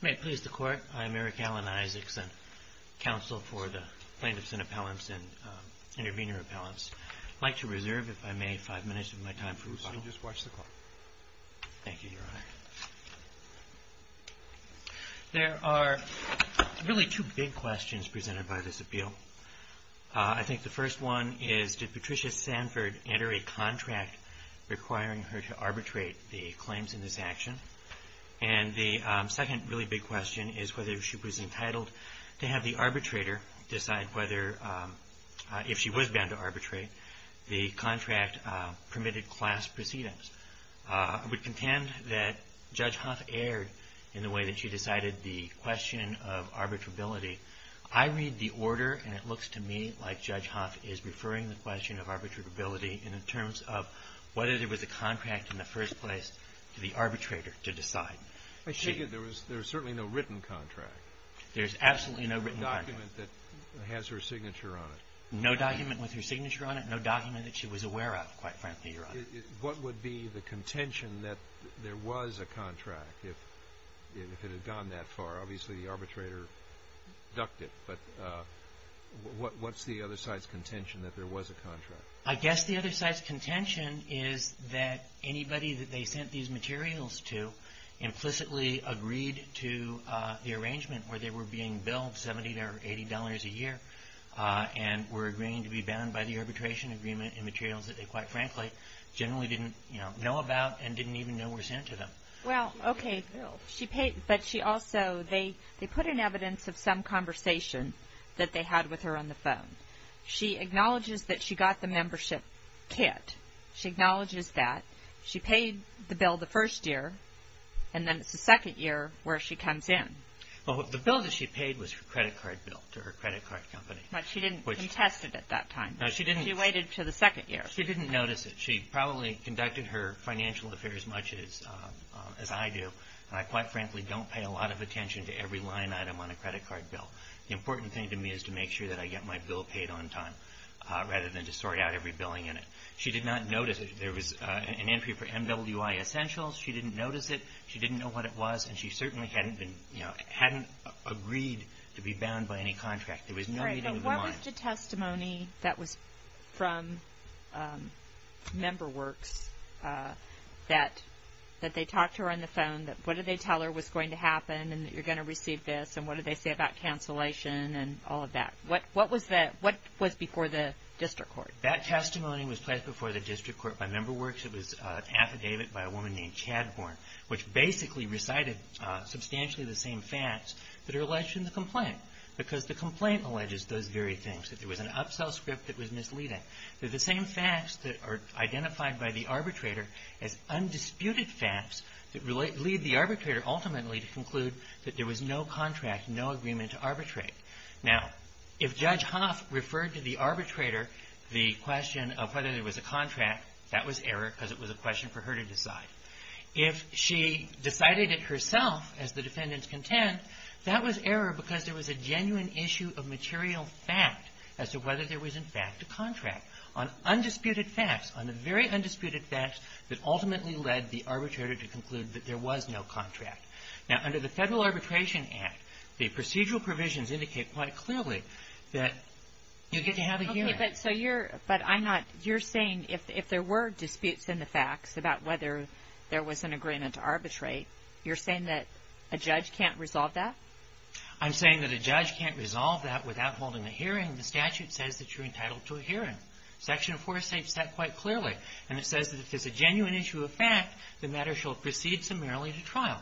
May it please the Court, I'm Eric Alan Isaacson, Counsel for the Plaintiffs and Appellants and Intervenor Appellants. I'd like to reserve, if I may, five minutes of my time for rebuttal. You may just watch the clock. Thank you, Your Honor. There are really two big questions presented by this appeal. I think the first one is did the arbitrator decide whether, if she was bound to arbitrate, the contract permitted class proceedings? I would contend that Judge Hoth erred in the way that she decided the question of arbitrability. I read the order and it looks to me like Judge Hoth is referring the question of arbitrability in terms of whether there was a contract in the first place for the arbitrator to decide. I take it there was certainly no written contract? There's absolutely no written contract. No document that has her signature on it? No document with her signature on it, no document that she was aware of, quite frankly, Your Honor. What would be the contention that there was a contract if it had gone that far? Obviously the arbitrator ducked it, but what's the other side's contention that there was a contract? I guess the other side's contention is that anybody that they sent these materials to implicitly agreed to the arrangement where they were being billed $70 or $80 a year and were agreeing to be bound by the arbitration agreement in materials that they, quite frankly, generally didn't know about and didn't even know were sent to them. Well, okay, but she also, they put in evidence of some conversation that they had with her on the phone. She acknowledges that she got the membership kit. She acknowledges that. She paid the bill the first year, and then it's the second year where she comes in. Well, the bill that she paid was her credit card bill to her credit card company. But she didn't contest it at that time. No, she didn't. She waited until the second year. She didn't notice it. She probably conducted her financial affairs much as I do, and I, quite frankly, don't pay a lot of attention to every line item on a credit card bill. The important thing to me is to make sure that I get my bill paid on time rather than to sort out every billing in it. She did not notice it. There was an entry for MWI Essentials. She didn't notice it. She didn't know what it was, and she certainly hadn't been, you know, hadn't agreed to be bound by any contract. There was no meeting of the mind. Right, but what was the testimony that was from Member Works that they talked to her on the phone, that what did they tell her was going to happen and that you're going to receive this, and what did they say about cancellation and all of that? What was before the district court? That testimony was placed before the district court by Member Works. It was an affidavit by a woman named Chad Horn, which basically recited substantially the same facts that are alleged in the complaint because the complaint alleges those very things, that there was an upsell script that was misleading. They're the same facts that are identified by the arbitrator as undisputed facts that lead the arbitrator ultimately to conclude that there was no contract, no agreement to arbitrate. Now, if Judge Hoff referred to the arbitrator the question of whether there was a contract, that was error because it was a question for her to decide. If she decided it herself, as the defendants contend, that was error because there was a genuine issue of material fact as to whether there was, in fact, a contract on undisputed facts, on the very undisputed facts that ultimately led the arbitrator to conclude that there was no contract. Now, under the Federal Arbitration Act, the procedural provisions indicate quite clearly that you get to have a hearing. Okay, but so you're, but I'm not, you're saying if there were disputes in the facts about whether there was an agreement to arbitrate, you're saying that a judge can't resolve that? I'm saying that a judge can't resolve that without holding a hearing. The statute says that you're entitled to a hearing. Section 4 states that quite clearly, and it says that if there's a genuine issue of fact, the matter shall proceed summarily to trial.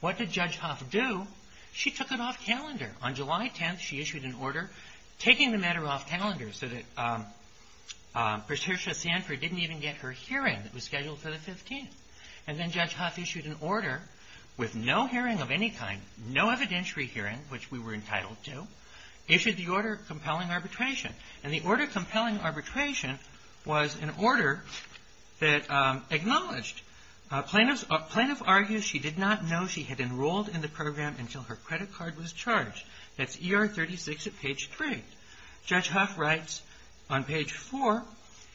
What did Judge Hoff do? She took it off calendar. On July 10th, she issued an order taking the matter off calendar so that Patricia Sanford didn't even get her hearing that was scheduled for the 15th. And then Judge Hoff issued an order with no hearing of any kind, no evidentiary hearing, which we were entitled to, issued the order of compelling arbitration. And the order of compelling arbitration was an order that acknowledged plaintiff's argued she did not know she had enrolled in the program until her credit card was charged. That's ER 36 at page 3. Judge Hoff writes on page 4,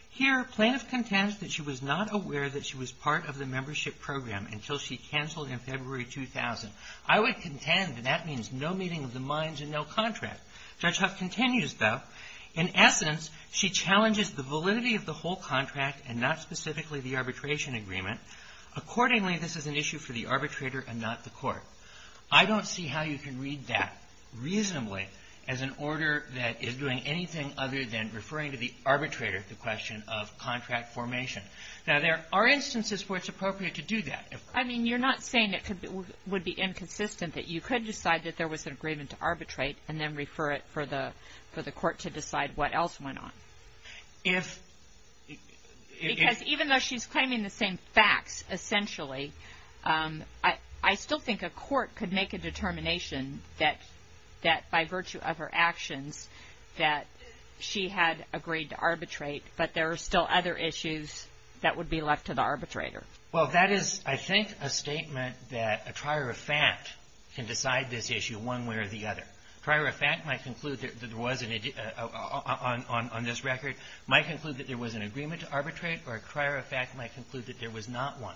here, plaintiff contends that she was not aware that she was part of the membership program until she canceled in February 2000. I would contend that that means no meeting of the contract. Judge Hoff continues, though, in essence, she challenges the validity of the whole contract and not specifically the arbitration agreement. Accordingly, this is an issue for the arbitrator and not the court. I don't see how you can read that reasonably as an order that is doing anything other than referring to the arbitrator, the question of contract formation. Now, there are instances where it's appropriate to do that. I mean, you're not saying it would be inconsistent that you could decide that there was an agreement to arbitrate and then refer it for the court to decide what else went on. Because even though she's claiming the same facts, essentially, I still think a court could make a determination that by virtue of her actions that she had agreed to arbitrate, but there are still other issues that would be left to the arbitrator. Well, that is, I think, a statement that a trier of fact can decide this issue one way or the other. Trier of fact might conclude that there was an on this record, might conclude that there was an agreement to arbitrate, or a trier of fact might conclude that there was not one.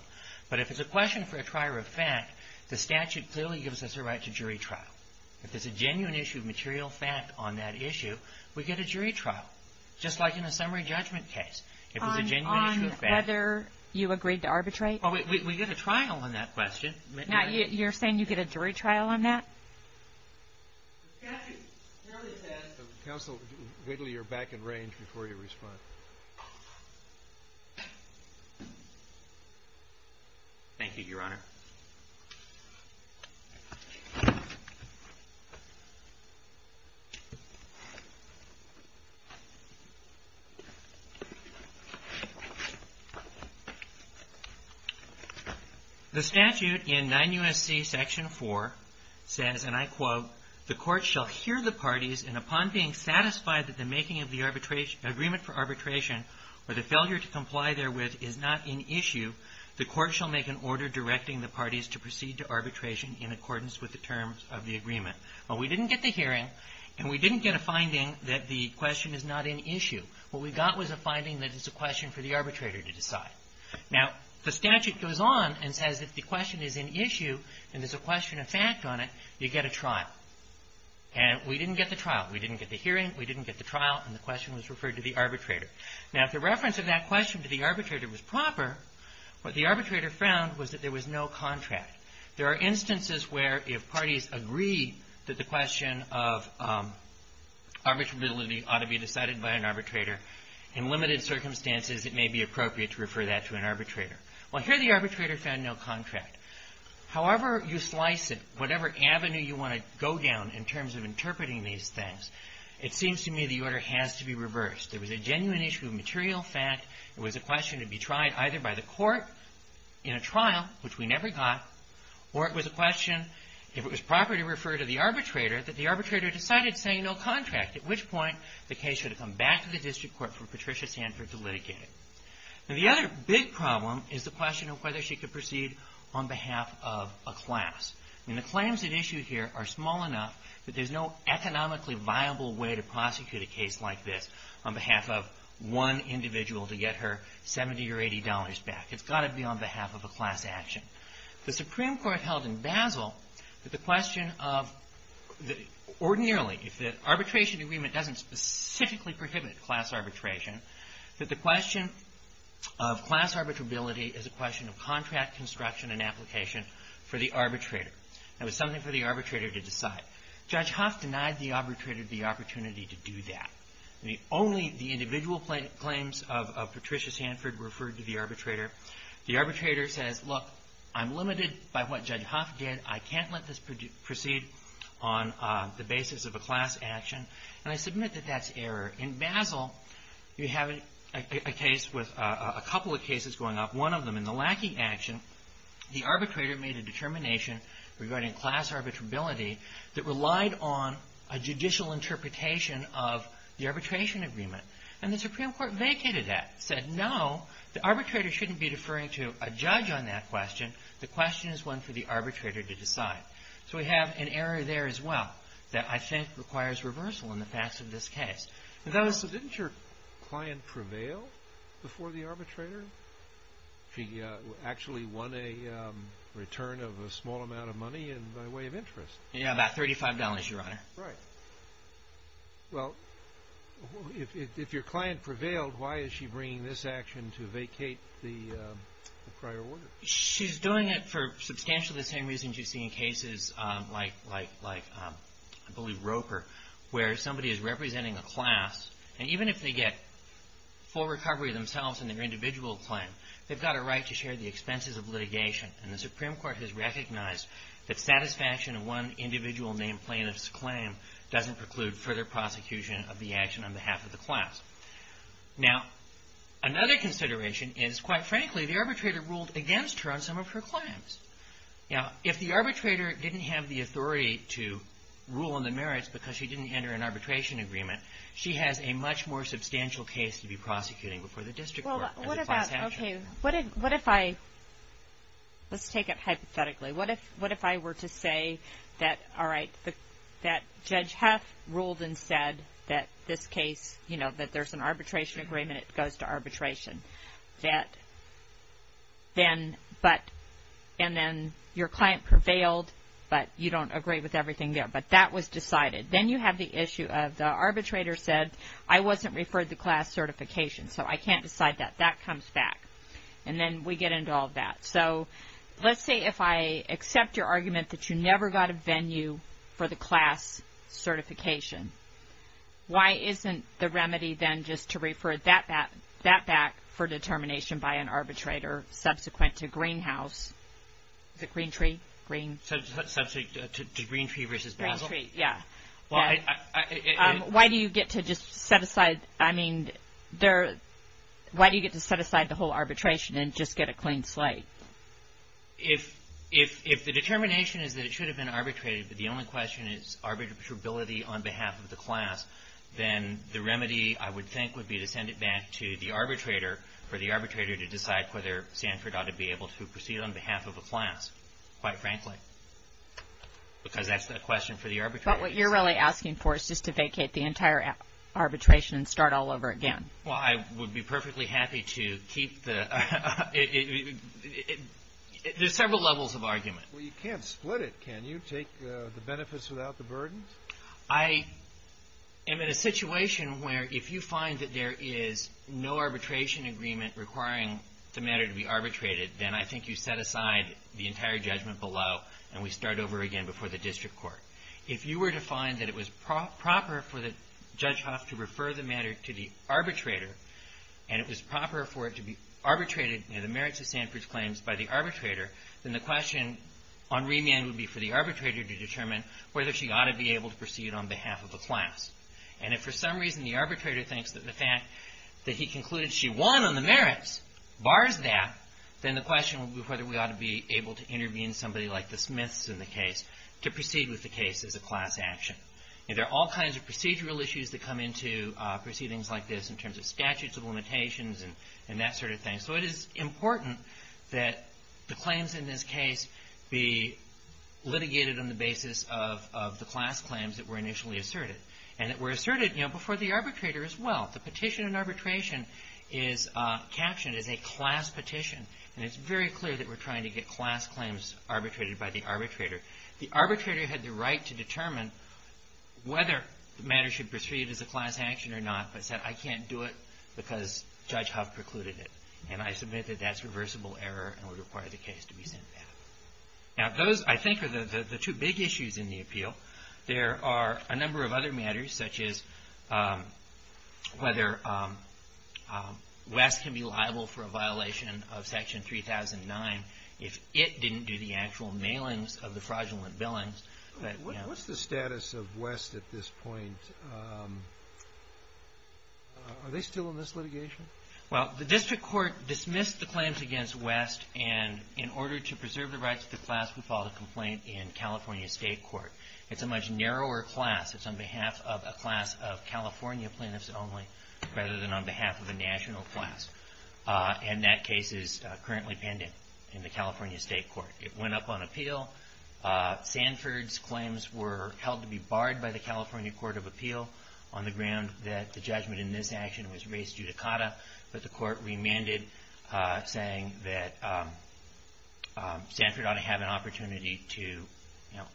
But if it's a question for a trier of fact, the statute clearly gives us a right to jury trial. If there's a genuine issue of material fact on that issue, we get a jury trial, just like in a summary judgment case. If it's a genuine issue of fact. You agreed to arbitrate? We get a trial on that question. You're saying you get a jury trial on that? Counsel Wigley, you're back in range before you respond. Thank you, Your Honor. The statute in 9 U.S.C. Section 4 says, and I quote, the court shall hear the parties, and upon being satisfied that the making of the agreement for arbitration, or the failure to comply therewith, is not an issue, the court shall make an order directing the parties to proceed to arbitration in accordance with the terms of the agreement. But we didn't get the hearing, and we didn't get a finding that the question is not an issue. What we got was a finding that it's a question for the arbitrator to decide. Now, the statute goes on and says if the question is an issue and there's a question of fact on it, you get a trial. And we didn't get the trial. We didn't get the hearing. We didn't get the trial. And the question was referred to the arbitrator. Now, if the reference of that question to the arbitrator was proper, what the arbitrator found was that there was no contract. There are instances where if parties agree that the question of arbitrability ought to be decided by an arbitrator, in limited circumstances it may be appropriate to refer that to an arbitrator. Well, here the arbitrator found no contract. However you slice it, whatever avenue you want to go down in terms of interpreting these things, it seems to me the order has to be reversed. There was a genuine issue of material fact. It was a question to be tried either by the court in a trial, which we never got, or it was a question, if it was appropriate to refer to the arbitrator, that the arbitrator decided saying no contract, at which point the case should have come back to the district court for Patricia Sanford to litigate it. Now, the other big problem is the question of whether she could proceed on behalf of a class. I mean, the claims that issue here are small enough that there's no economically viable way to prosecute a case like this on behalf of one individual to get her $70 or $80 back. It's got to be on behalf of a class action. The question of, ordinarily, if the arbitration agreement doesn't specifically prohibit class arbitration, that the question of class arbitrability is a question of contract construction and application for the arbitrator. It was something for the arbitrator to decide. Judge Huff denied the arbitrator the opportunity to do that. Only the individual claims of Patricia Sanford were referred to the arbitrator. The arbitrator says, look, I'm limited by what Judge Huff did. I can't let this proceed on the basis of a class action. And I submit that that's error. In Basel, you have a case with a couple of cases going up. One of them, in the lacking action, the arbitrator made a determination regarding class arbitrability that relied on a judicial interpretation of the arbitration agreement. And the Supreme Court vacated that, said, no, the arbitrator shouldn't be deferring to a judge on that question. The question is one for the arbitrator to decide. So we have an error there as well that I think requires reversal in the facts of this case. So didn't your client prevail before the arbitrator? She actually won a return of a small amount of money and by way of interest. Yeah, about $35, Your Honor. Right. Well, if your client prevailed, why is she bringing this action to vacate the prior order? She's doing it for substantially the same reasons you see in cases like, I believe, Roper, where somebody is representing a class. And even if they get full recovery themselves in their individual claim, they've got a right to share the expenses of litigation. And the Supreme Court has recognized that satisfaction of one individual named plaintiff's claim doesn't preclude further prosecution of the action on behalf of the class. Now, another consideration is, quite frankly, the Now, if the arbitrator didn't have the authority to rule on the merits because she didn't enter an arbitration agreement, she has a much more substantial case to be prosecuting before the district court. Well, what about, okay, what if I, let's take it hypothetically, what if I were to say that, all right, that Judge Heff ruled and said that this case, you know, that there's an arbitration agreement, it goes to arbitration, that then, but, and then your client prevailed, but you don't agree with everything there. But that was decided. Then you have the issue of the arbitrator said, I wasn't referred the class certification, so I can't decide that. That comes back. And then we get into all that. So, let's say if I accept your argument that you never got a venue for the class certification, why isn't the remedy then just to refer that back for determination by an arbitrator subsequent to Greenhouse, the Green Tree, Green. Subsequent to Green Tree versus Basel? Green Tree, yeah. Why do you get to just set aside, I mean, there, why do you get to set aside the whole arbitration and just get a clean slate? If, if, if the determination is that it should have been arbitrated, but the only question is arbitrability on behalf of the class, then the remedy, I would think, would be to send it back to the arbitrator for the arbitrator to decide whether Sanford ought to be able to proceed on behalf of a class, quite frankly. Because that's the question for the arbitrator. But what you're really asking for is just to vacate the entire arbitration and start all over again. Well, I would be perfectly happy to keep the, there's several levels of arbitration. I'm in a situation where if you find that there is no arbitration agreement requiring the matter to be arbitrated, then I think you set aside the entire judgment below and we start over again before the district court. If you were to find that it was prop, proper for the Judge Hough to refer the matter to the arbitrator, and it was proper for it to be arbitrated in the merits of Sanford's claims by the arbitrator, then the question on remand would be for the arbitrator to determine whether she ought to be able to proceed on behalf of a class. And if for some reason the arbitrator thinks that the fact that he concluded she won on the merits bars that, then the question would be whether we ought to be able to intervene, somebody like the Smiths in the case, to proceed with the case as a class action. There are all kinds of procedural issues that come into proceedings like this in terms of statutes of limitations and that sort of thing. So it is litigated on the basis of the class claims that were initially asserted. And that were asserted before the arbitrator as well. The petition and arbitration is captioned as a class petition. And it's very clear that we're trying to get class claims arbitrated by the arbitrator. The arbitrator had the right to determine whether the matter should proceed as a class action or not, but said I can't do it because Judge Hough precluded it. And I submit that that's I think are the two big issues in the appeal. There are a number of other matters such as whether West can be liable for a violation of Section 3009 if it didn't do the actual mailings of the fraudulent billings. What's the status of West at this point? Are they still in this litigation? Well, the district court dismissed the claims against West. And in order to do that, they filed a complaint in California State Court. It's a much narrower class. It's on behalf of a class of California plaintiffs only rather than on behalf of a national class. And that case is currently pending in the California State Court. It went up on appeal. Sanford's claims were held to be barred by the California Court of Appeal on the ground that the judgment in this action was race judicata. But the court remanded saying that Sanford ought to have an opportunity to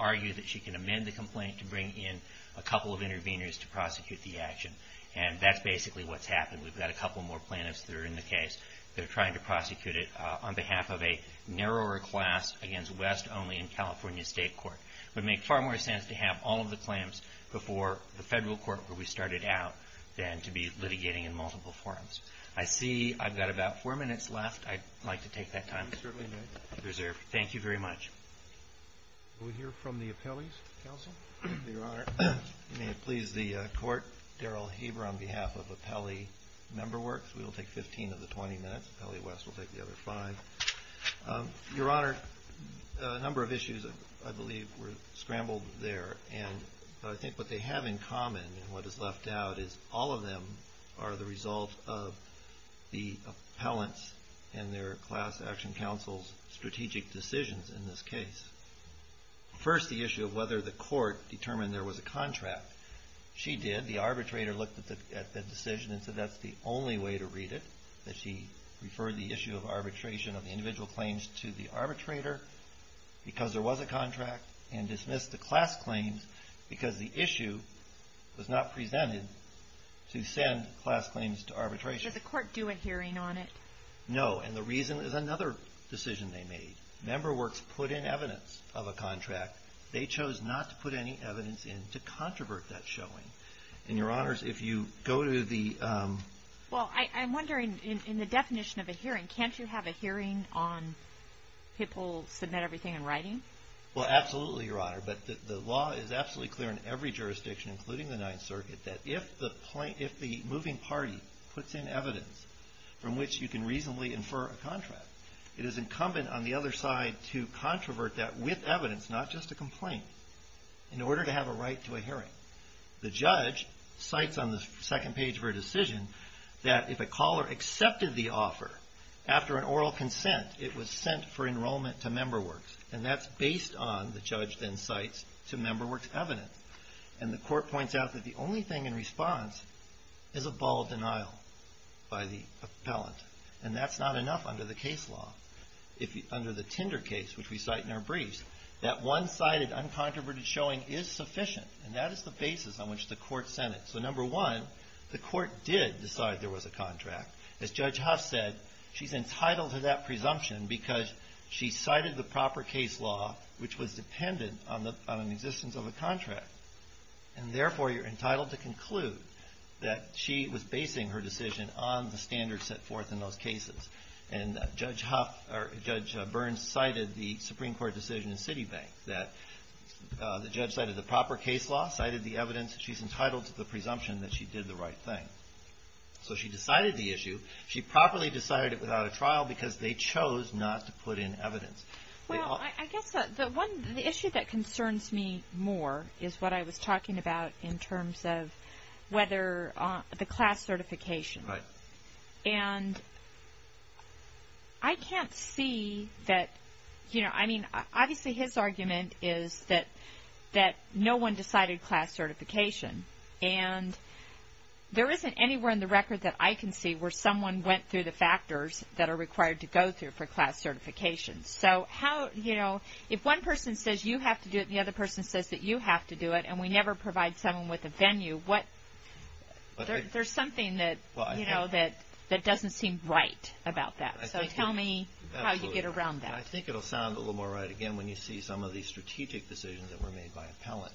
argue that she can amend the complaint to bring in a couple of interveners to prosecute the action. And that's basically what's happened. We've got a couple more plaintiffs that are in the case that are trying to prosecute it on behalf of a narrower class against West only in California State Court. It would make far more sense to have all of the claims before the federal court where we started out than to be litigating in multiple forums. I see I've got about four minutes left. I'd like to take that time to reserve. Thank you very much. We'll hear from the appellees. Your Honor, may it please the court, Daryl Haber on behalf of Appellee Member Works. We will take 15 of the 20 minutes. Appellee West will take the other five. Your Honor, a number of issues I believe were scrambled there. And I think what they have in common and what is left out is all of them are the result of the appellants and their class action counsel's strategic decisions in this case. First, the issue of whether the court determined there was a contract. She did. The arbitrator looked at the decision and said that's the only way to read it, that she referred the issue of arbitration of the individual claims to the arbitrator because there was a contract and dismissed the class claims because the issue was not presented to send class claims to arbitration. Did the court do a hearing on it? No. And the reason is another decision they made. Member Works put in evidence of a contract. They chose not to put any evidence in to controvert that showing. And, Your Honors, if you go to the... Well, I'm wondering in the definition of a hearing, can't you have a hearing on people submit everything in writing? Well, absolutely, Your Honor. But the law is absolutely clear in every jurisdiction, including the Ninth Circuit, that if the moving party puts in evidence from which you can reasonably infer a contract, it is incumbent on the other side to controvert that with evidence, not just a complaint, in order to have a right to a hearing. The judge cites on the second page of her decision that if a caller accepted the offer after an oral consent, it was sent for enrollment to Member Works. And that's based on, the judge then cites, to Member Works' evidence. And the court points out that the only thing in response is a ball of denial by the appellant. And that's not enough under the case law. If under the Tinder case, which we cite in our briefs, that one-sided, uncontroverted showing is sufficient. And that is the basis on which the court sent it. So number one, the court did decide there was a contract. As Judge Huff said, she's entitled to that presumption because she cited the evidence. And therefore, you're entitled to conclude that she was basing her decision on the standards set forth in those cases. And Judge Huff, or Judge Burns, cited the Supreme Court decision in Citibank, that the judge cited the proper case law, cited the evidence. She's entitled to the presumption that she did the right thing. So she decided the issue. She properly decided it without a trial because they chose not to put in evidence. Well, I guess the issue that concerns me more is what I was talking about in terms of whether the class certification. And I can't see that, you know, I mean, obviously his argument is that no one decided class certification. And there isn't anywhere in the record that I can see where someone went through the process. So how, you know, if one person says you have to do it, and the other person says that you have to do it, and we never provide someone with a venue, what, there's something that, you know, that doesn't seem right about that. So tell me how you get around that. I think it'll sound a little more right again when you see some of these strategic decisions that were made by appellant.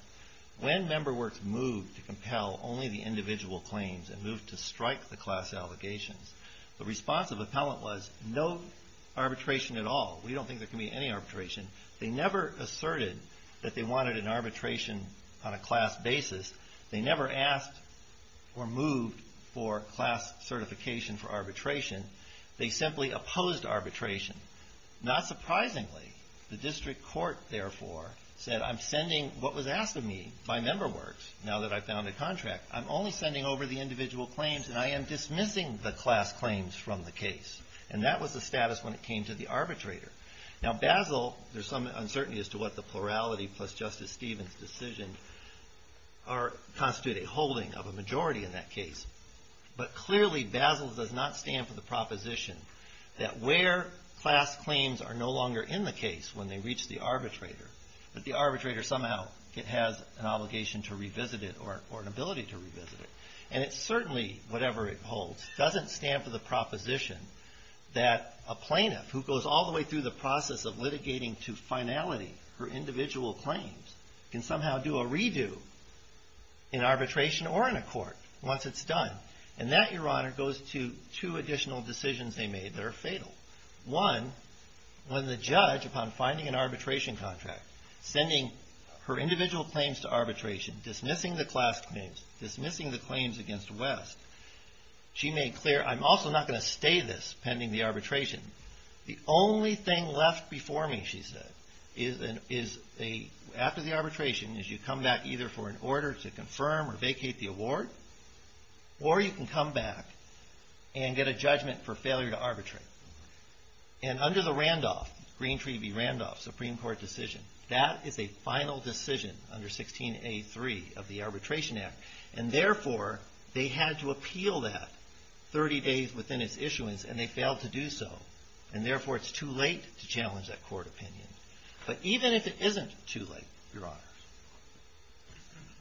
When Member Works moved to compel only the individual claims and moved to strike the class allegations, the response of appellant was no arbitration at all. We don't think there can be any arbitration. They never asserted that they wanted an arbitration on a class basis. They never asked or moved for class certification for arbitration. They simply opposed arbitration. Not surprisingly, the district court, therefore, said I'm sending what was asked of me by Member Works, now that I've found a contract, I'm only sending over the individual claims and I am dismissing the class claims from the case. And that was the Now Basel, there's some uncertainty as to what the plurality plus Justice Stevens' decision constitute a holding of a majority in that case. But clearly Basel does not stand for the proposition that where class claims are no longer in the case when they reach the arbitrator, that the arbitrator somehow has an obligation to revisit it or an ability to revisit it. And it certainly, whatever it holds, doesn't stand for the proposition that a judge, as a result of litigating to finality her individual claims, can somehow do a redo in arbitration or in a court once it's done. And that, Your Honor, goes to two additional decisions they made that are fatal. One, when the judge, upon finding an arbitration contract, sending her individual claims to arbitration, dismissing the class claims, dismissing the claims against West, she made clear, I'm also not going to stay this long pending the arbitration. The only thing left before me, she said, is a, after the arbitration, is you come back either for an order to confirm or vacate the award, or you can come back and get a judgment for failure to arbitrate. And under the Randolph, Green Treaty v. Randolph, Supreme Court decision, that is a final decision under 16A3 of the Arbitration Act. And therefore, they had to appeal that 30 days within its issuance, and they failed to do so. And therefore, it's too late to challenge that court opinion. But even if it isn't too late, Your Honor,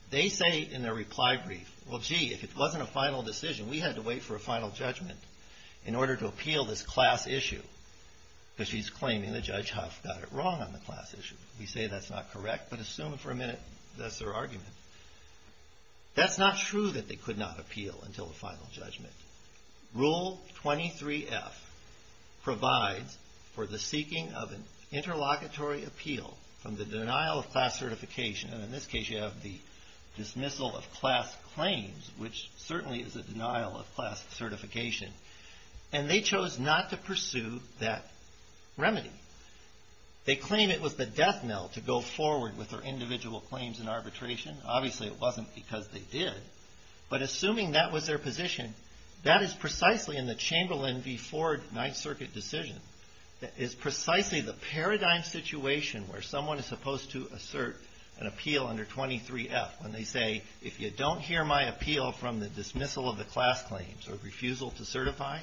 they say in their reply brief, well, gee, if it wasn't a final decision, we had to wait for a final judgment in order to appeal this class issue, because she's claiming that Judge Huff got it wrong on the class issue. We say that's not correct, but assume for a minute that's their argument. That's not true that they could not appeal until the final judgment. Rule 23F provides for the seeking of an interlocutory appeal from the denial of class certification. And in this case, you have the dismissal of class claims, which certainly is a denial of class certification. And they chose not to pursue that remedy. They claim it was the death knell to go forward with their individual claims in arbitration. Obviously, it wasn't because they did. But assuming that was their position, that is precisely in the Chamberlain v. Ford Ninth Circuit decision, that is precisely the paradigm situation where someone is supposed to assert an appeal under 23F, when they say, if you don't hear my appeal from the dismissal of the class claims or refusal to certify,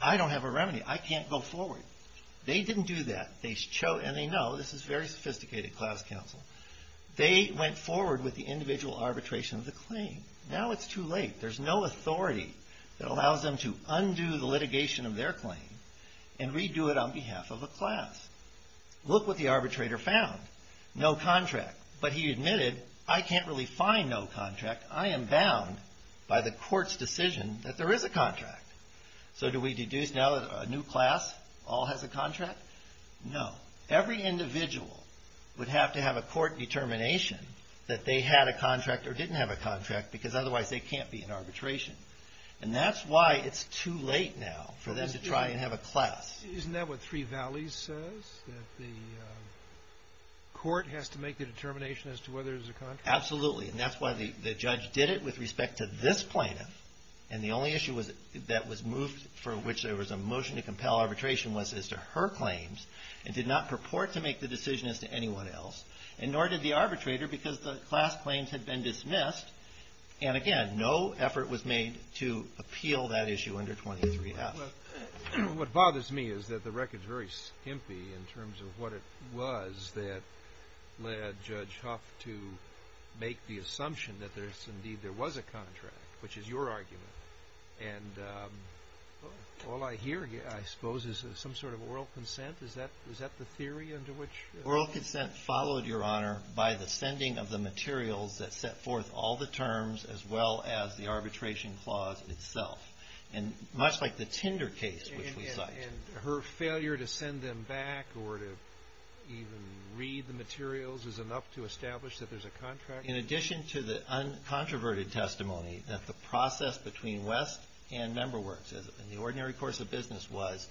I don't have a remedy. I can't go forward. They didn't do that. And they know this is very sophisticated class counsel. They went forward with the individual arbitration of the claim. Now it's too late. There's no authority that allows them to undo the litigation of their claim and redo it on behalf of a class. Look what the arbitrator found. No contract. But he admitted, I can't really find no contract. I am bound by the court's decision that there is a contract. So do we deduce now that a new class all has a contract? No. Every individual would have to have a court determination that they had a contract or didn't have a contract because otherwise they can't be in arbitration. And that's why it's too late now for them to try and have a class. Isn't that what Three Valleys says, that the court has to make the determination as to whether there's a contract? Absolutely. And that's why the judge did it with respect to this plaintiff. And the only issue that was moved for which there was a motion to compel arbitration was as to her claims and did not purport to make the decision as to anyone else. And nor did the arbitrator because the class claims had been dismissed. And again, no effort was made to appeal that issue under 23-F. What bothers me is that the record's very skimpy in terms of what it was that led Judge Huff to make the assumption that there's indeed, there was a contract, which is your argument. And all I hear, I suppose, is some sort of oral consent. Is that the theory under which? Oral consent followed, Your Honor, by the sending of the materials that set forth all the terms as well as the arbitration clause itself. And much like the Tinder case which we cite. And her failure to send them back or to even read the materials is enough to establish that there's a contract? In addition to the uncontroverted testimony that the process between West and Member Works in the ordinary course of business was,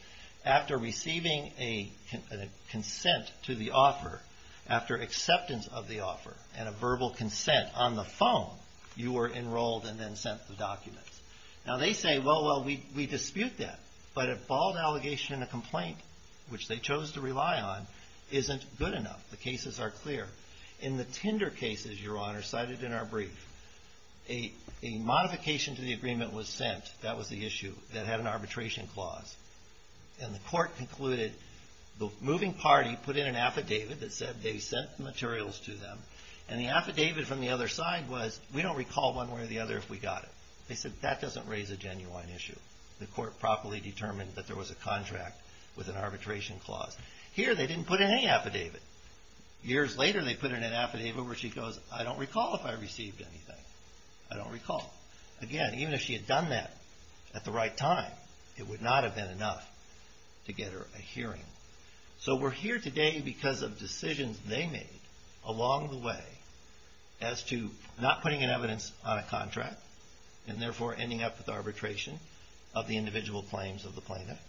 after receiving a consent to the offer, after acceptance of the offer and a verbal consent on the phone, you were enrolled and then sent the documents. Now they say, well, we dispute that. But a bald allegation and a complaint, which they chose to rely on, isn't good enough. The cases are clear. In the Tinder cases, Your Honor, cited in our brief, a modification to the agreement was sent, that was the issue, that had an arbitration clause. And the court concluded the moving party put in an affidavit that said they sent the materials to them. And the affidavit from the other side was, we don't recall one way or the other if we got it. They said, that doesn't raise a genuine issue. The court properly determined that there was a contract with an arbitration clause. Here, they didn't put in any affidavit. Years later, they put in an affidavit where she goes, I don't recall if I received anything. I don't recall. Again, even if she had done that at the right time, it would not have been enough to get her a hearing. So we're here today because of decisions they made along the way as to not putting an evidence on a contract, and therefore ending up with arbitration of the individual claims of the plaintiff.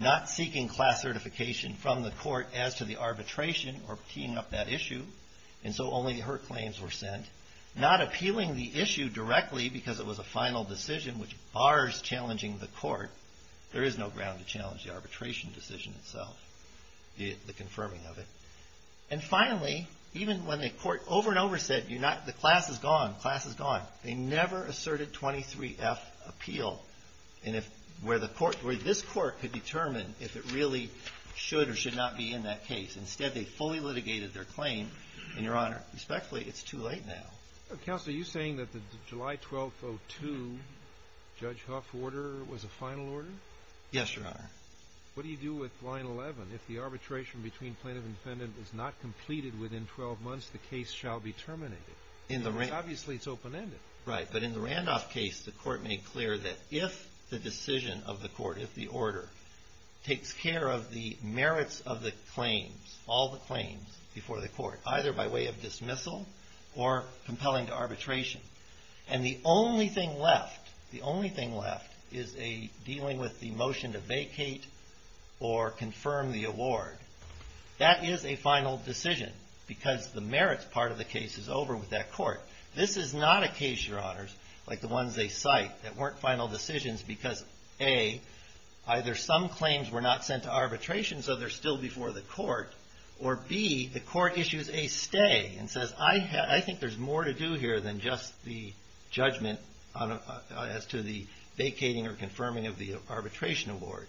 Not seeking class certification from the court as to the arbitration, or keying up that issue, and so only her claims were sent. Not appealing the issue directly because it was a final decision which bars challenging the court. There is no ground to challenge the arbitration decision itself, the confirming of it. And finally, even when the court over and over said, you're not, the class is gone, the class is gone, they never asserted 23F appeal. And if, where the court, where this court could determine if it really should or should not be in that case. Instead, they fully litigated their claim. And your honor, respectfully, it's too late now. Counsel, are you saying that the July 12th, 02, Judge Huff order was a final order? Yes, your honor. What do you do with line 11? If the arbitration between plaintiff and defendant is not completed within 12 months, the case shall be terminated. In the, obviously it's open ended. Right, but in the Randolph case, the court made clear that if the decision of the court, if the order takes care of the merits of the claims, all the claims before the court, either by way of dismissal or compelling to arbitration. And the only thing left, the only thing left is a, dealing with the motion to vacate or confirm the award. That is a final decision because the merits part of the case is over with that court. This is not a case, your honors, like the ones they cite that weren't final decisions because A, either some claims were not sent to arbitration, so they're still before the court, or B, the court issues a stay and says, I think there's more to do here than just the judgment on, as to the vacating or confirming of the arbitration award.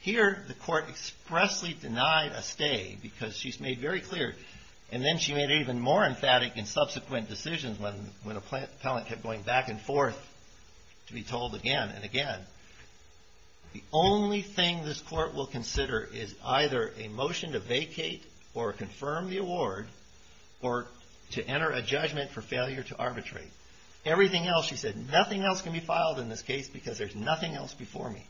Here, the court expressly denied a stay because she's made very clear. And then she made even more emphatic and subsequent decisions when, when a plant, appellant kept going back and forth to be told again and again. The only thing this court will consider is either a motion to vacate or confirm the award, or to enter a judgment for failure to arbitrate. Everything else, she said, nothing else can be filed in this case because there's nothing else before me.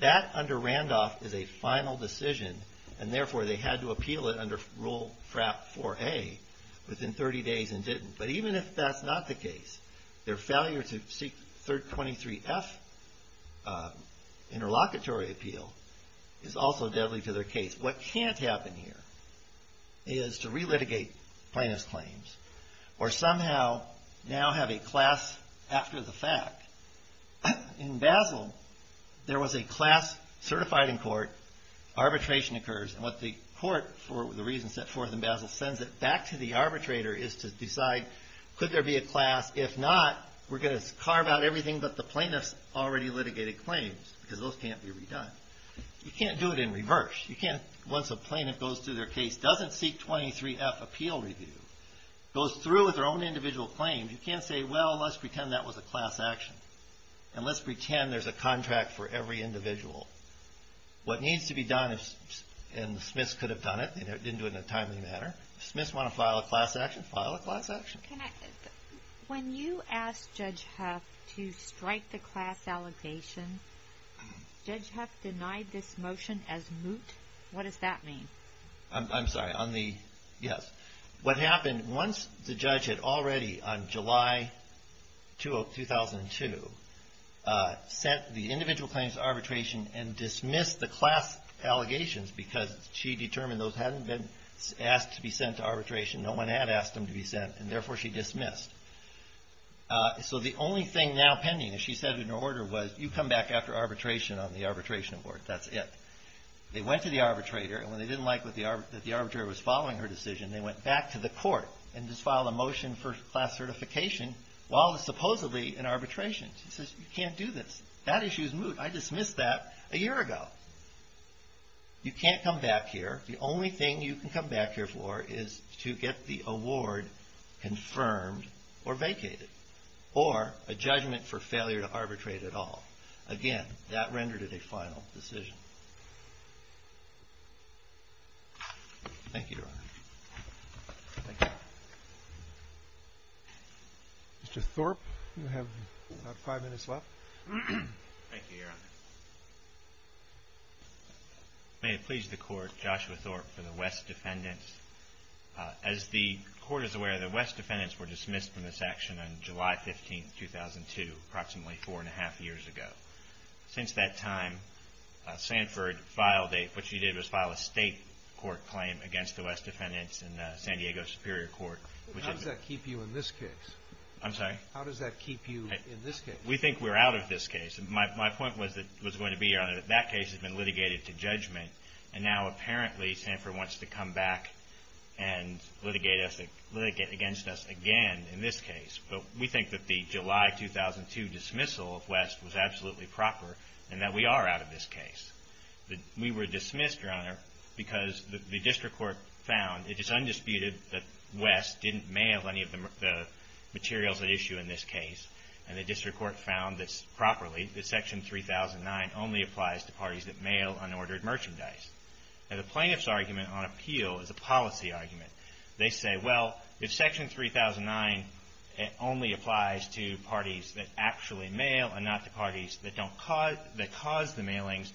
That, under Randolph, is a final decision, and therefore, they had to appeal it under Rule FRAP 4A within 30 days and didn't. But even if that's not the case, their failure to seek 3rd 23F interlocutory appeal is also deadly to their case. What can't happen here is to re-litigate plaintiff's claims. Or somehow, now have a class after the fact. In Basel, there was a class certified in court. Arbitration occurs, and what the court, for the reasons set forth in Basel, sends it back to the arbitrator is to decide, could there be a class? If not, we're going to carve out everything but the plaintiff's already litigated claims, because those can't be redone. You can't do it in reverse. You can't, once a plaintiff goes through their case, doesn't seek 23F appeal review, goes through with their own individual claim. You can't say, well, let's pretend that was a class action. And let's pretend there's a contract for every individual. What needs to be done, and the Smiths could have done it, they didn't do it in a timely manner. Smiths want to file a class action, file a class action. When you asked Judge Huff to strike the class allegation, Judge Huff denied this motion as moot, what does that mean? I'm, I'm sorry, on the, yes. What happened, once the judge had already, on July 2 of 2002, sent the individual claims to arbitration and she determined those hadn't been asked to be sent to arbitration. No one had asked them to be sent, and therefore she dismissed. So the only thing now pending, as she said in her order, was you come back after arbitration on the arbitration board, that's it. They went to the arbitrator, and when they didn't like what the ar, that the arbitrator was following her decision, they went back to the court. And just filed a motion for class certification while it was supposedly in arbitration. She says, you can't do this. That issue's moot. I dismissed that a year ago. You can't come back here. The only thing you can come back here for is to get the award confirmed or vacated. Or a judgment for failure to arbitrate at all. Again, that rendered it a final decision. Thank you, Your Honor. Thank you. Mr. Thorpe, you have about five minutes left. Thank you, Your Honor. May it please the court, Joshua Thorpe for the West defendants. As the court is aware, the West defendants were dismissed from this action on July 15, 2002, approximately four and a half years ago. Since that time, Sanford filed a, what she did was file a state court claim against the West defendants in the San Diego Superior Court. How does that keep you in this case? I'm sorry? How does that keep you in this case? We think we're out of this case. My point was that, was going to be, Your Honor, that that case has been litigated to judgment and now apparently Sanford wants to come back and litigate us, litigate against us again in this case. But we think that the July 2002 dismissal of West was absolutely proper and that we are out of this case. We were dismissed, Your Honor, because the district court found it is undisputed that West didn't mail any of the materials at issue in this case. And the district court found this properly, that section 3009 only applies to parties that mail unordered merchandise. Now the plaintiff's argument on appeal is a policy argument. They say, well, if section 3009 only applies to parties that actually mail and not to parties that cause the mailings,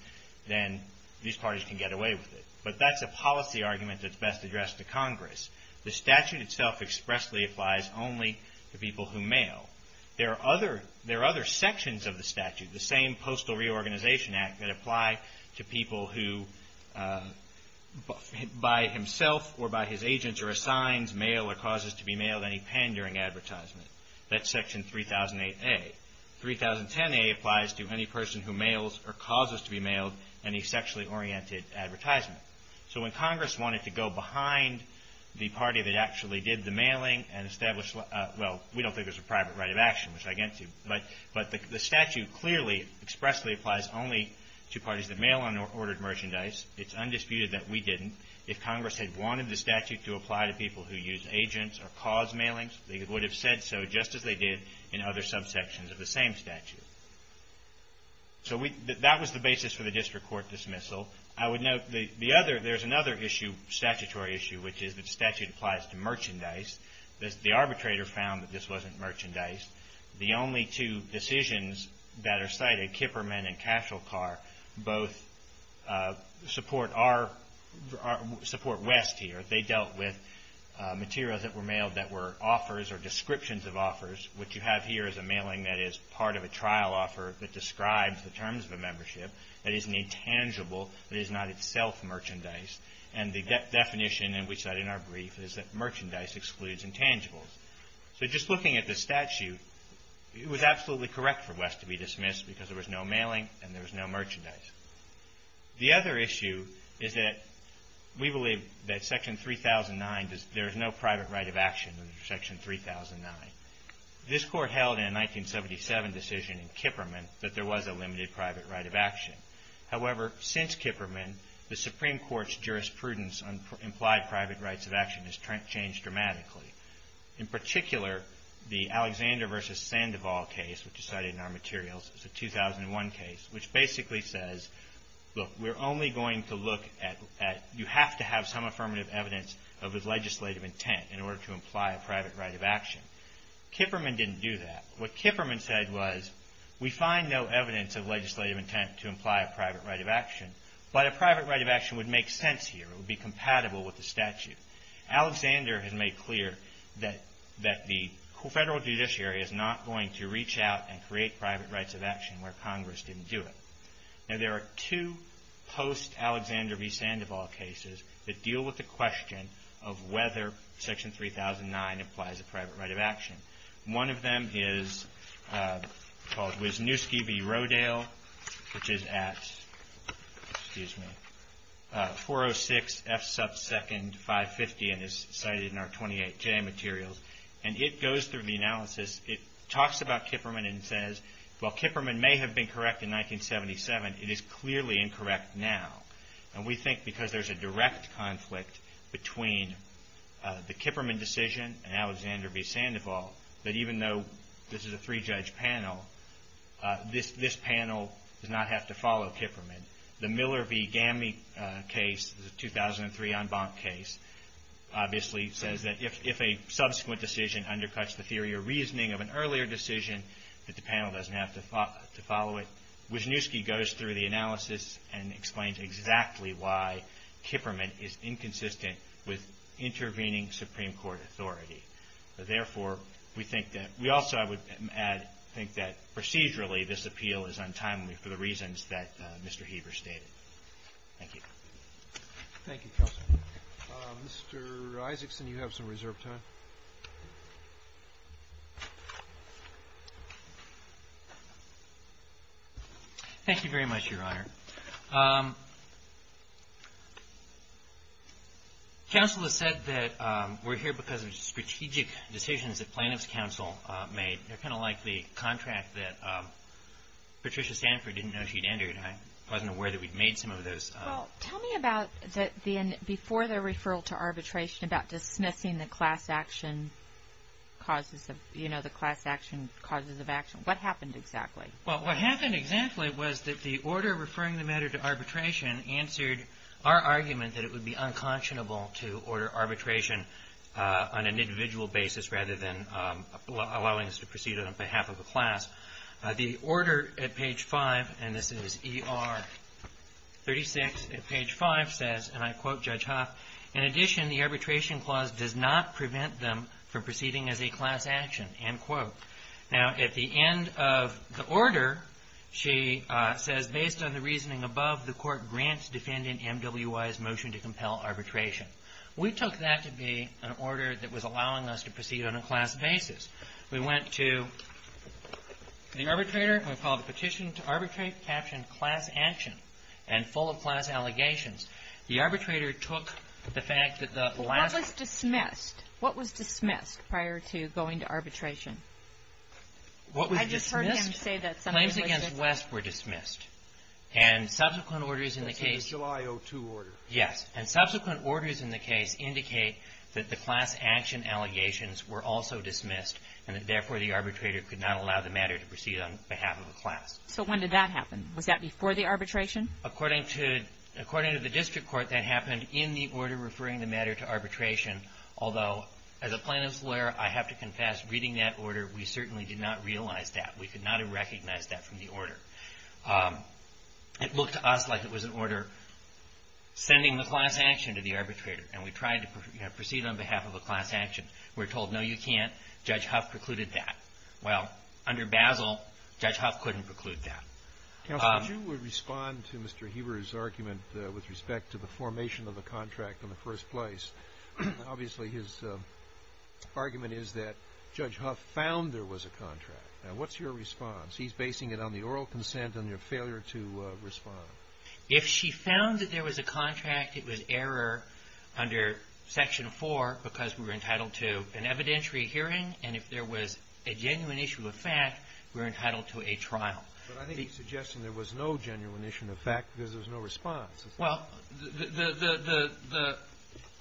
then these parties can get away with it. But that's a policy argument that's best addressed to Congress. The statute itself expressly applies only to people who mail. There are other sections of the statute, the same Postal Reorganization Act, that apply to people who by himself or by his agents are assigned mail or causes to be mailed any pen during advertisement. That's section 3008A. 3010A applies to any person who mails or causes to be mailed any sexually oriented advertisement. So when Congress wanted to go behind the party that actually did the mailing and they don't think there's a private right of action, which I get to. But the statute clearly expressly applies only to parties that mail unordered merchandise. It's undisputed that we didn't. If Congress had wanted the statute to apply to people who use agents or cause mailings, they would have said so just as they did in other subsections of the same statute. So that was the basis for the district court dismissal. I would note there's another issue, statutory issue, which is that the statute applies to merchandise. The arbitrator found that this wasn't merchandise. The only two decisions that are cited, Kipperman and Cashelcar, both support West here. They dealt with materials that were mailed that were offers or descriptions of offers. What you have here is a mailing that is part of a trial offer that describes the terms of a membership that isn't intangible, that is not itself merchandise. And the definition that we cite in our brief is that merchandise excludes intangibles. So just looking at the statute, it was absolutely correct for West to be dismissed because there was no mailing and there was no merchandise. The other issue is that we believe that Section 3009, there is no private right of action under Section 3009. This court held in a 1977 decision in Kipperman that there was a limited private right of action. However, since Kipperman, the Supreme Court's jurisprudence on implied private rights of action has changed dramatically. In particular, the Alexander versus Sandoval case, which is cited in our materials, is a 2001 case, which basically says, look, we're only going to look at, you have to have some affirmative evidence of his legislative intent in order to imply a private right of action. Kipperman didn't do that. What Kipperman said was, we find no evidence of legislative intent to imply a private right of action. But a private right of action would make sense here. It would be compatible with the statute. Alexander has made clear that the federal judiciary is not going to reach out and create private rights of action where Congress didn't do it. Now there are two post-Alexander v. Sandoval cases that deal with the question of whether Section 3009 implies a private right of action. One of them is called Wisniewski v. Rodale, which is at 406 F sub 2nd 550 and is cited in our 28J materials. And it goes through the analysis, it talks about Kipperman and says, while Kipperman may have been correct in 1977, it is clearly incorrect now. And we think because there's a direct conflict between the Kipperman decision and Alexander v. Sandoval, that even though this is a three-judge panel, this panel does not have to follow Kipperman. The Miller v. Gamie case, the 2003 en banc case, obviously says that if a subsequent decision undercuts the theory or reasoning of an earlier decision, that the panel doesn't have to follow it. Wisniewski goes through the analysis and explains exactly why Kipperman is inconsistent with intervening Supreme Court authority. Therefore, we think that we also, I would add, think that procedurally, this appeal is untimely for the reasons that Mr. Heber stated. Thank you. Thank you, Counsel. Mr. Isaacson, you have some reserve time. Thank you very much, Your Honor. Counsel has said that we're here because of strategic decisions that plaintiff's counsel made. They're kind of like the contract that Patricia Sanford didn't know she'd entered. I wasn't aware that we'd made some of those. Well, tell me about, before the referral to arbitration, about dismissing the class action causes of, you know, the class action causes of action. What happened exactly? Well, what happened exactly was that the order referring the matter to arbitration answered our argument that it would be unconscionable to order arbitration on an individual basis rather than allowing us to proceed on behalf of a class. The order at page 5, and this is ER 36 at page 5, says, and I quote Judge Hoff, in addition, the arbitration clause does not prevent them from proceeding as a class action, end quote. Now, at the end of the order, she says, based on the reasoning above, the court grants defendant MWI's motion to compel arbitration. We took that to be an order that was allowing us to proceed on a class basis. We went to the arbitrator, and we filed a petition to arbitrate, captioned class action, and full of class allegations. The arbitrator took the fact that the last- I just heard him say that something was missing. Claims against West were dismissed. And subsequent orders in the case- That's in the July 02 order. Yes. And subsequent orders in the case indicate that the class action allegations were also dismissed, and that therefore, the arbitrator could not allow the matter to proceed on behalf of a class. So when did that happen? Was that before the arbitration? According to the district court, that happened in the order referring the matter to arbitration, although as a plaintiff's lawyer, I have to confess, reading that order, we certainly did not realize that. We could not have recognized that from the order. It looked to us like it was an order sending the class action to the arbitrator, and we tried to proceed on behalf of a class action. We're told, no, you can't. Judge Huff precluded that. Well, under Basel, Judge Huff couldn't preclude that. Counsel, would you respond to Mr. Heber's argument with respect to the formation of the contract in the first place? Obviously, his argument is that Judge Huff found there was a contract. Now, what's your response? He's basing it on the oral consent and your failure to respond. If she found that there was a contract, it was error under Section 4, because we were entitled to an evidentiary hearing. And if there was a genuine issue of fact, we were entitled to a trial. But I think he's suggesting there was no genuine issue of fact, because there was no response. Well,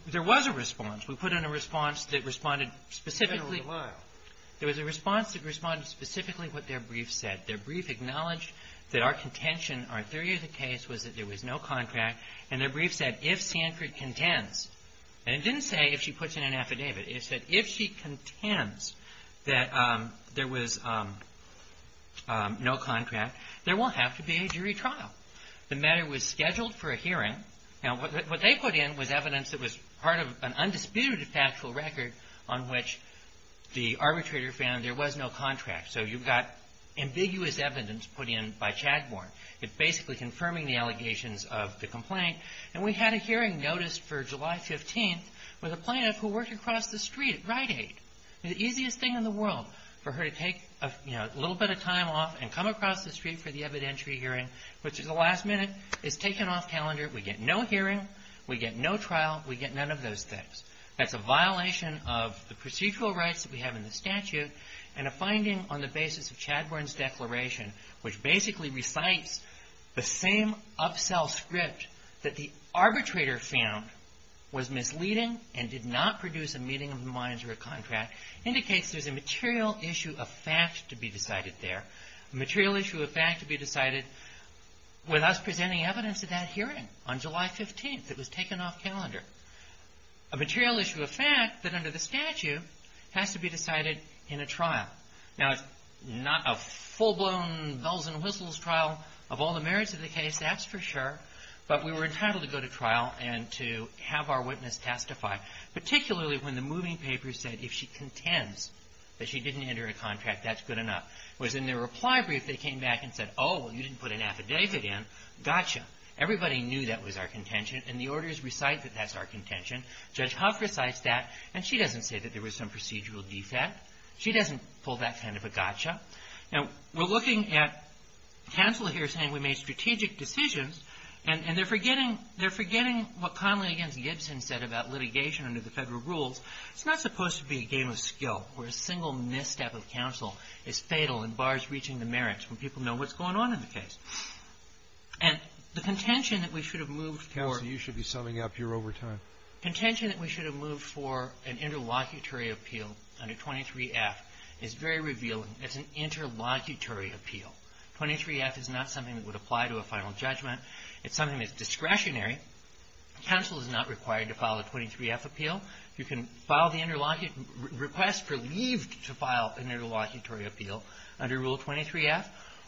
there was a response. We put in a response that responded specifically to what their brief said. Their brief acknowledged that our contention, our theory of the case, was that there was no contract, and their brief said if Sanford contends, and it didn't say if she puts in an affidavit, it said if she contends that there was no contract, there won't have to be a jury trial. The matter was scheduled for a hearing. Now, what they put in was evidence that was part of an undisputed factual record on which the arbitrator found there was no contract. So you've got ambiguous evidence put in by Chadbourne. It's basically confirming the allegations of the complaint. And we had a hearing noticed for July 15th with a plaintiff who worked across the street at Rite Aid. The easiest thing in the world for her to take a little bit of time off and come across the street for the evidentiary hearing, which is the last minute, is taking off calendar. We get no hearing. We get no trial. We get none of those things. That's a violation of the procedural rights that we have in the statute and a finding on the basis of Chadbourne's declaration, which basically recites the same upsell script that the arbitrator found was misleading and did not produce a meeting of the minds or a contract, indicates there's a material issue of fact to be decided there, a material issue of fact to be decided with us presenting evidence at that hearing on July 15th. It was taken off calendar. A material issue of fact that under the statute has to be decided in a trial. Now, it's not a full-blown bells and whistles trial of all the merits of the case, that's for sure. But we were entitled to go to trial and to have our witness testify, particularly when the moving paper said if she contends that she didn't enter a contract, that's good enough. Whereas in the reply brief, they came back and said, oh, well, you didn't put an affidavit in. Gotcha. Everybody knew that was our contention, and the orders recite that that's our contention. Judge Huff recites that, and she doesn't say that there was some procedural defect. She doesn't pull that kind of a gotcha. Now, we're looking at counsel here saying we made strategic decisions, and they're forgetting what Conley against Gibson said about litigation under the federal rules. It's not supposed to be a game of skill where a single misstep of counsel is fatal and bars reaching the merits when people know what's going on in the case. And the contention that we should have moved for an interlocutory appeal under 23F is very revealing. It's an interlocutory appeal. 23F is not something that would apply to a final judgment. It's something that's discretionary. You file the request for leave to file an interlocutory appeal under Rule 23F,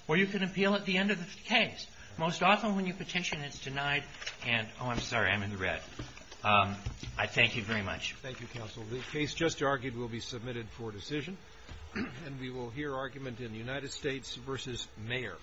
or you can appeal at the end of the case. Most often when you petition, it's denied and, oh, I'm sorry, I'm in the red. I thank you very much. Thank you, counsel. The case just argued will be submitted for decision, and we will hear argument in the United States v. Mayor. Thank you.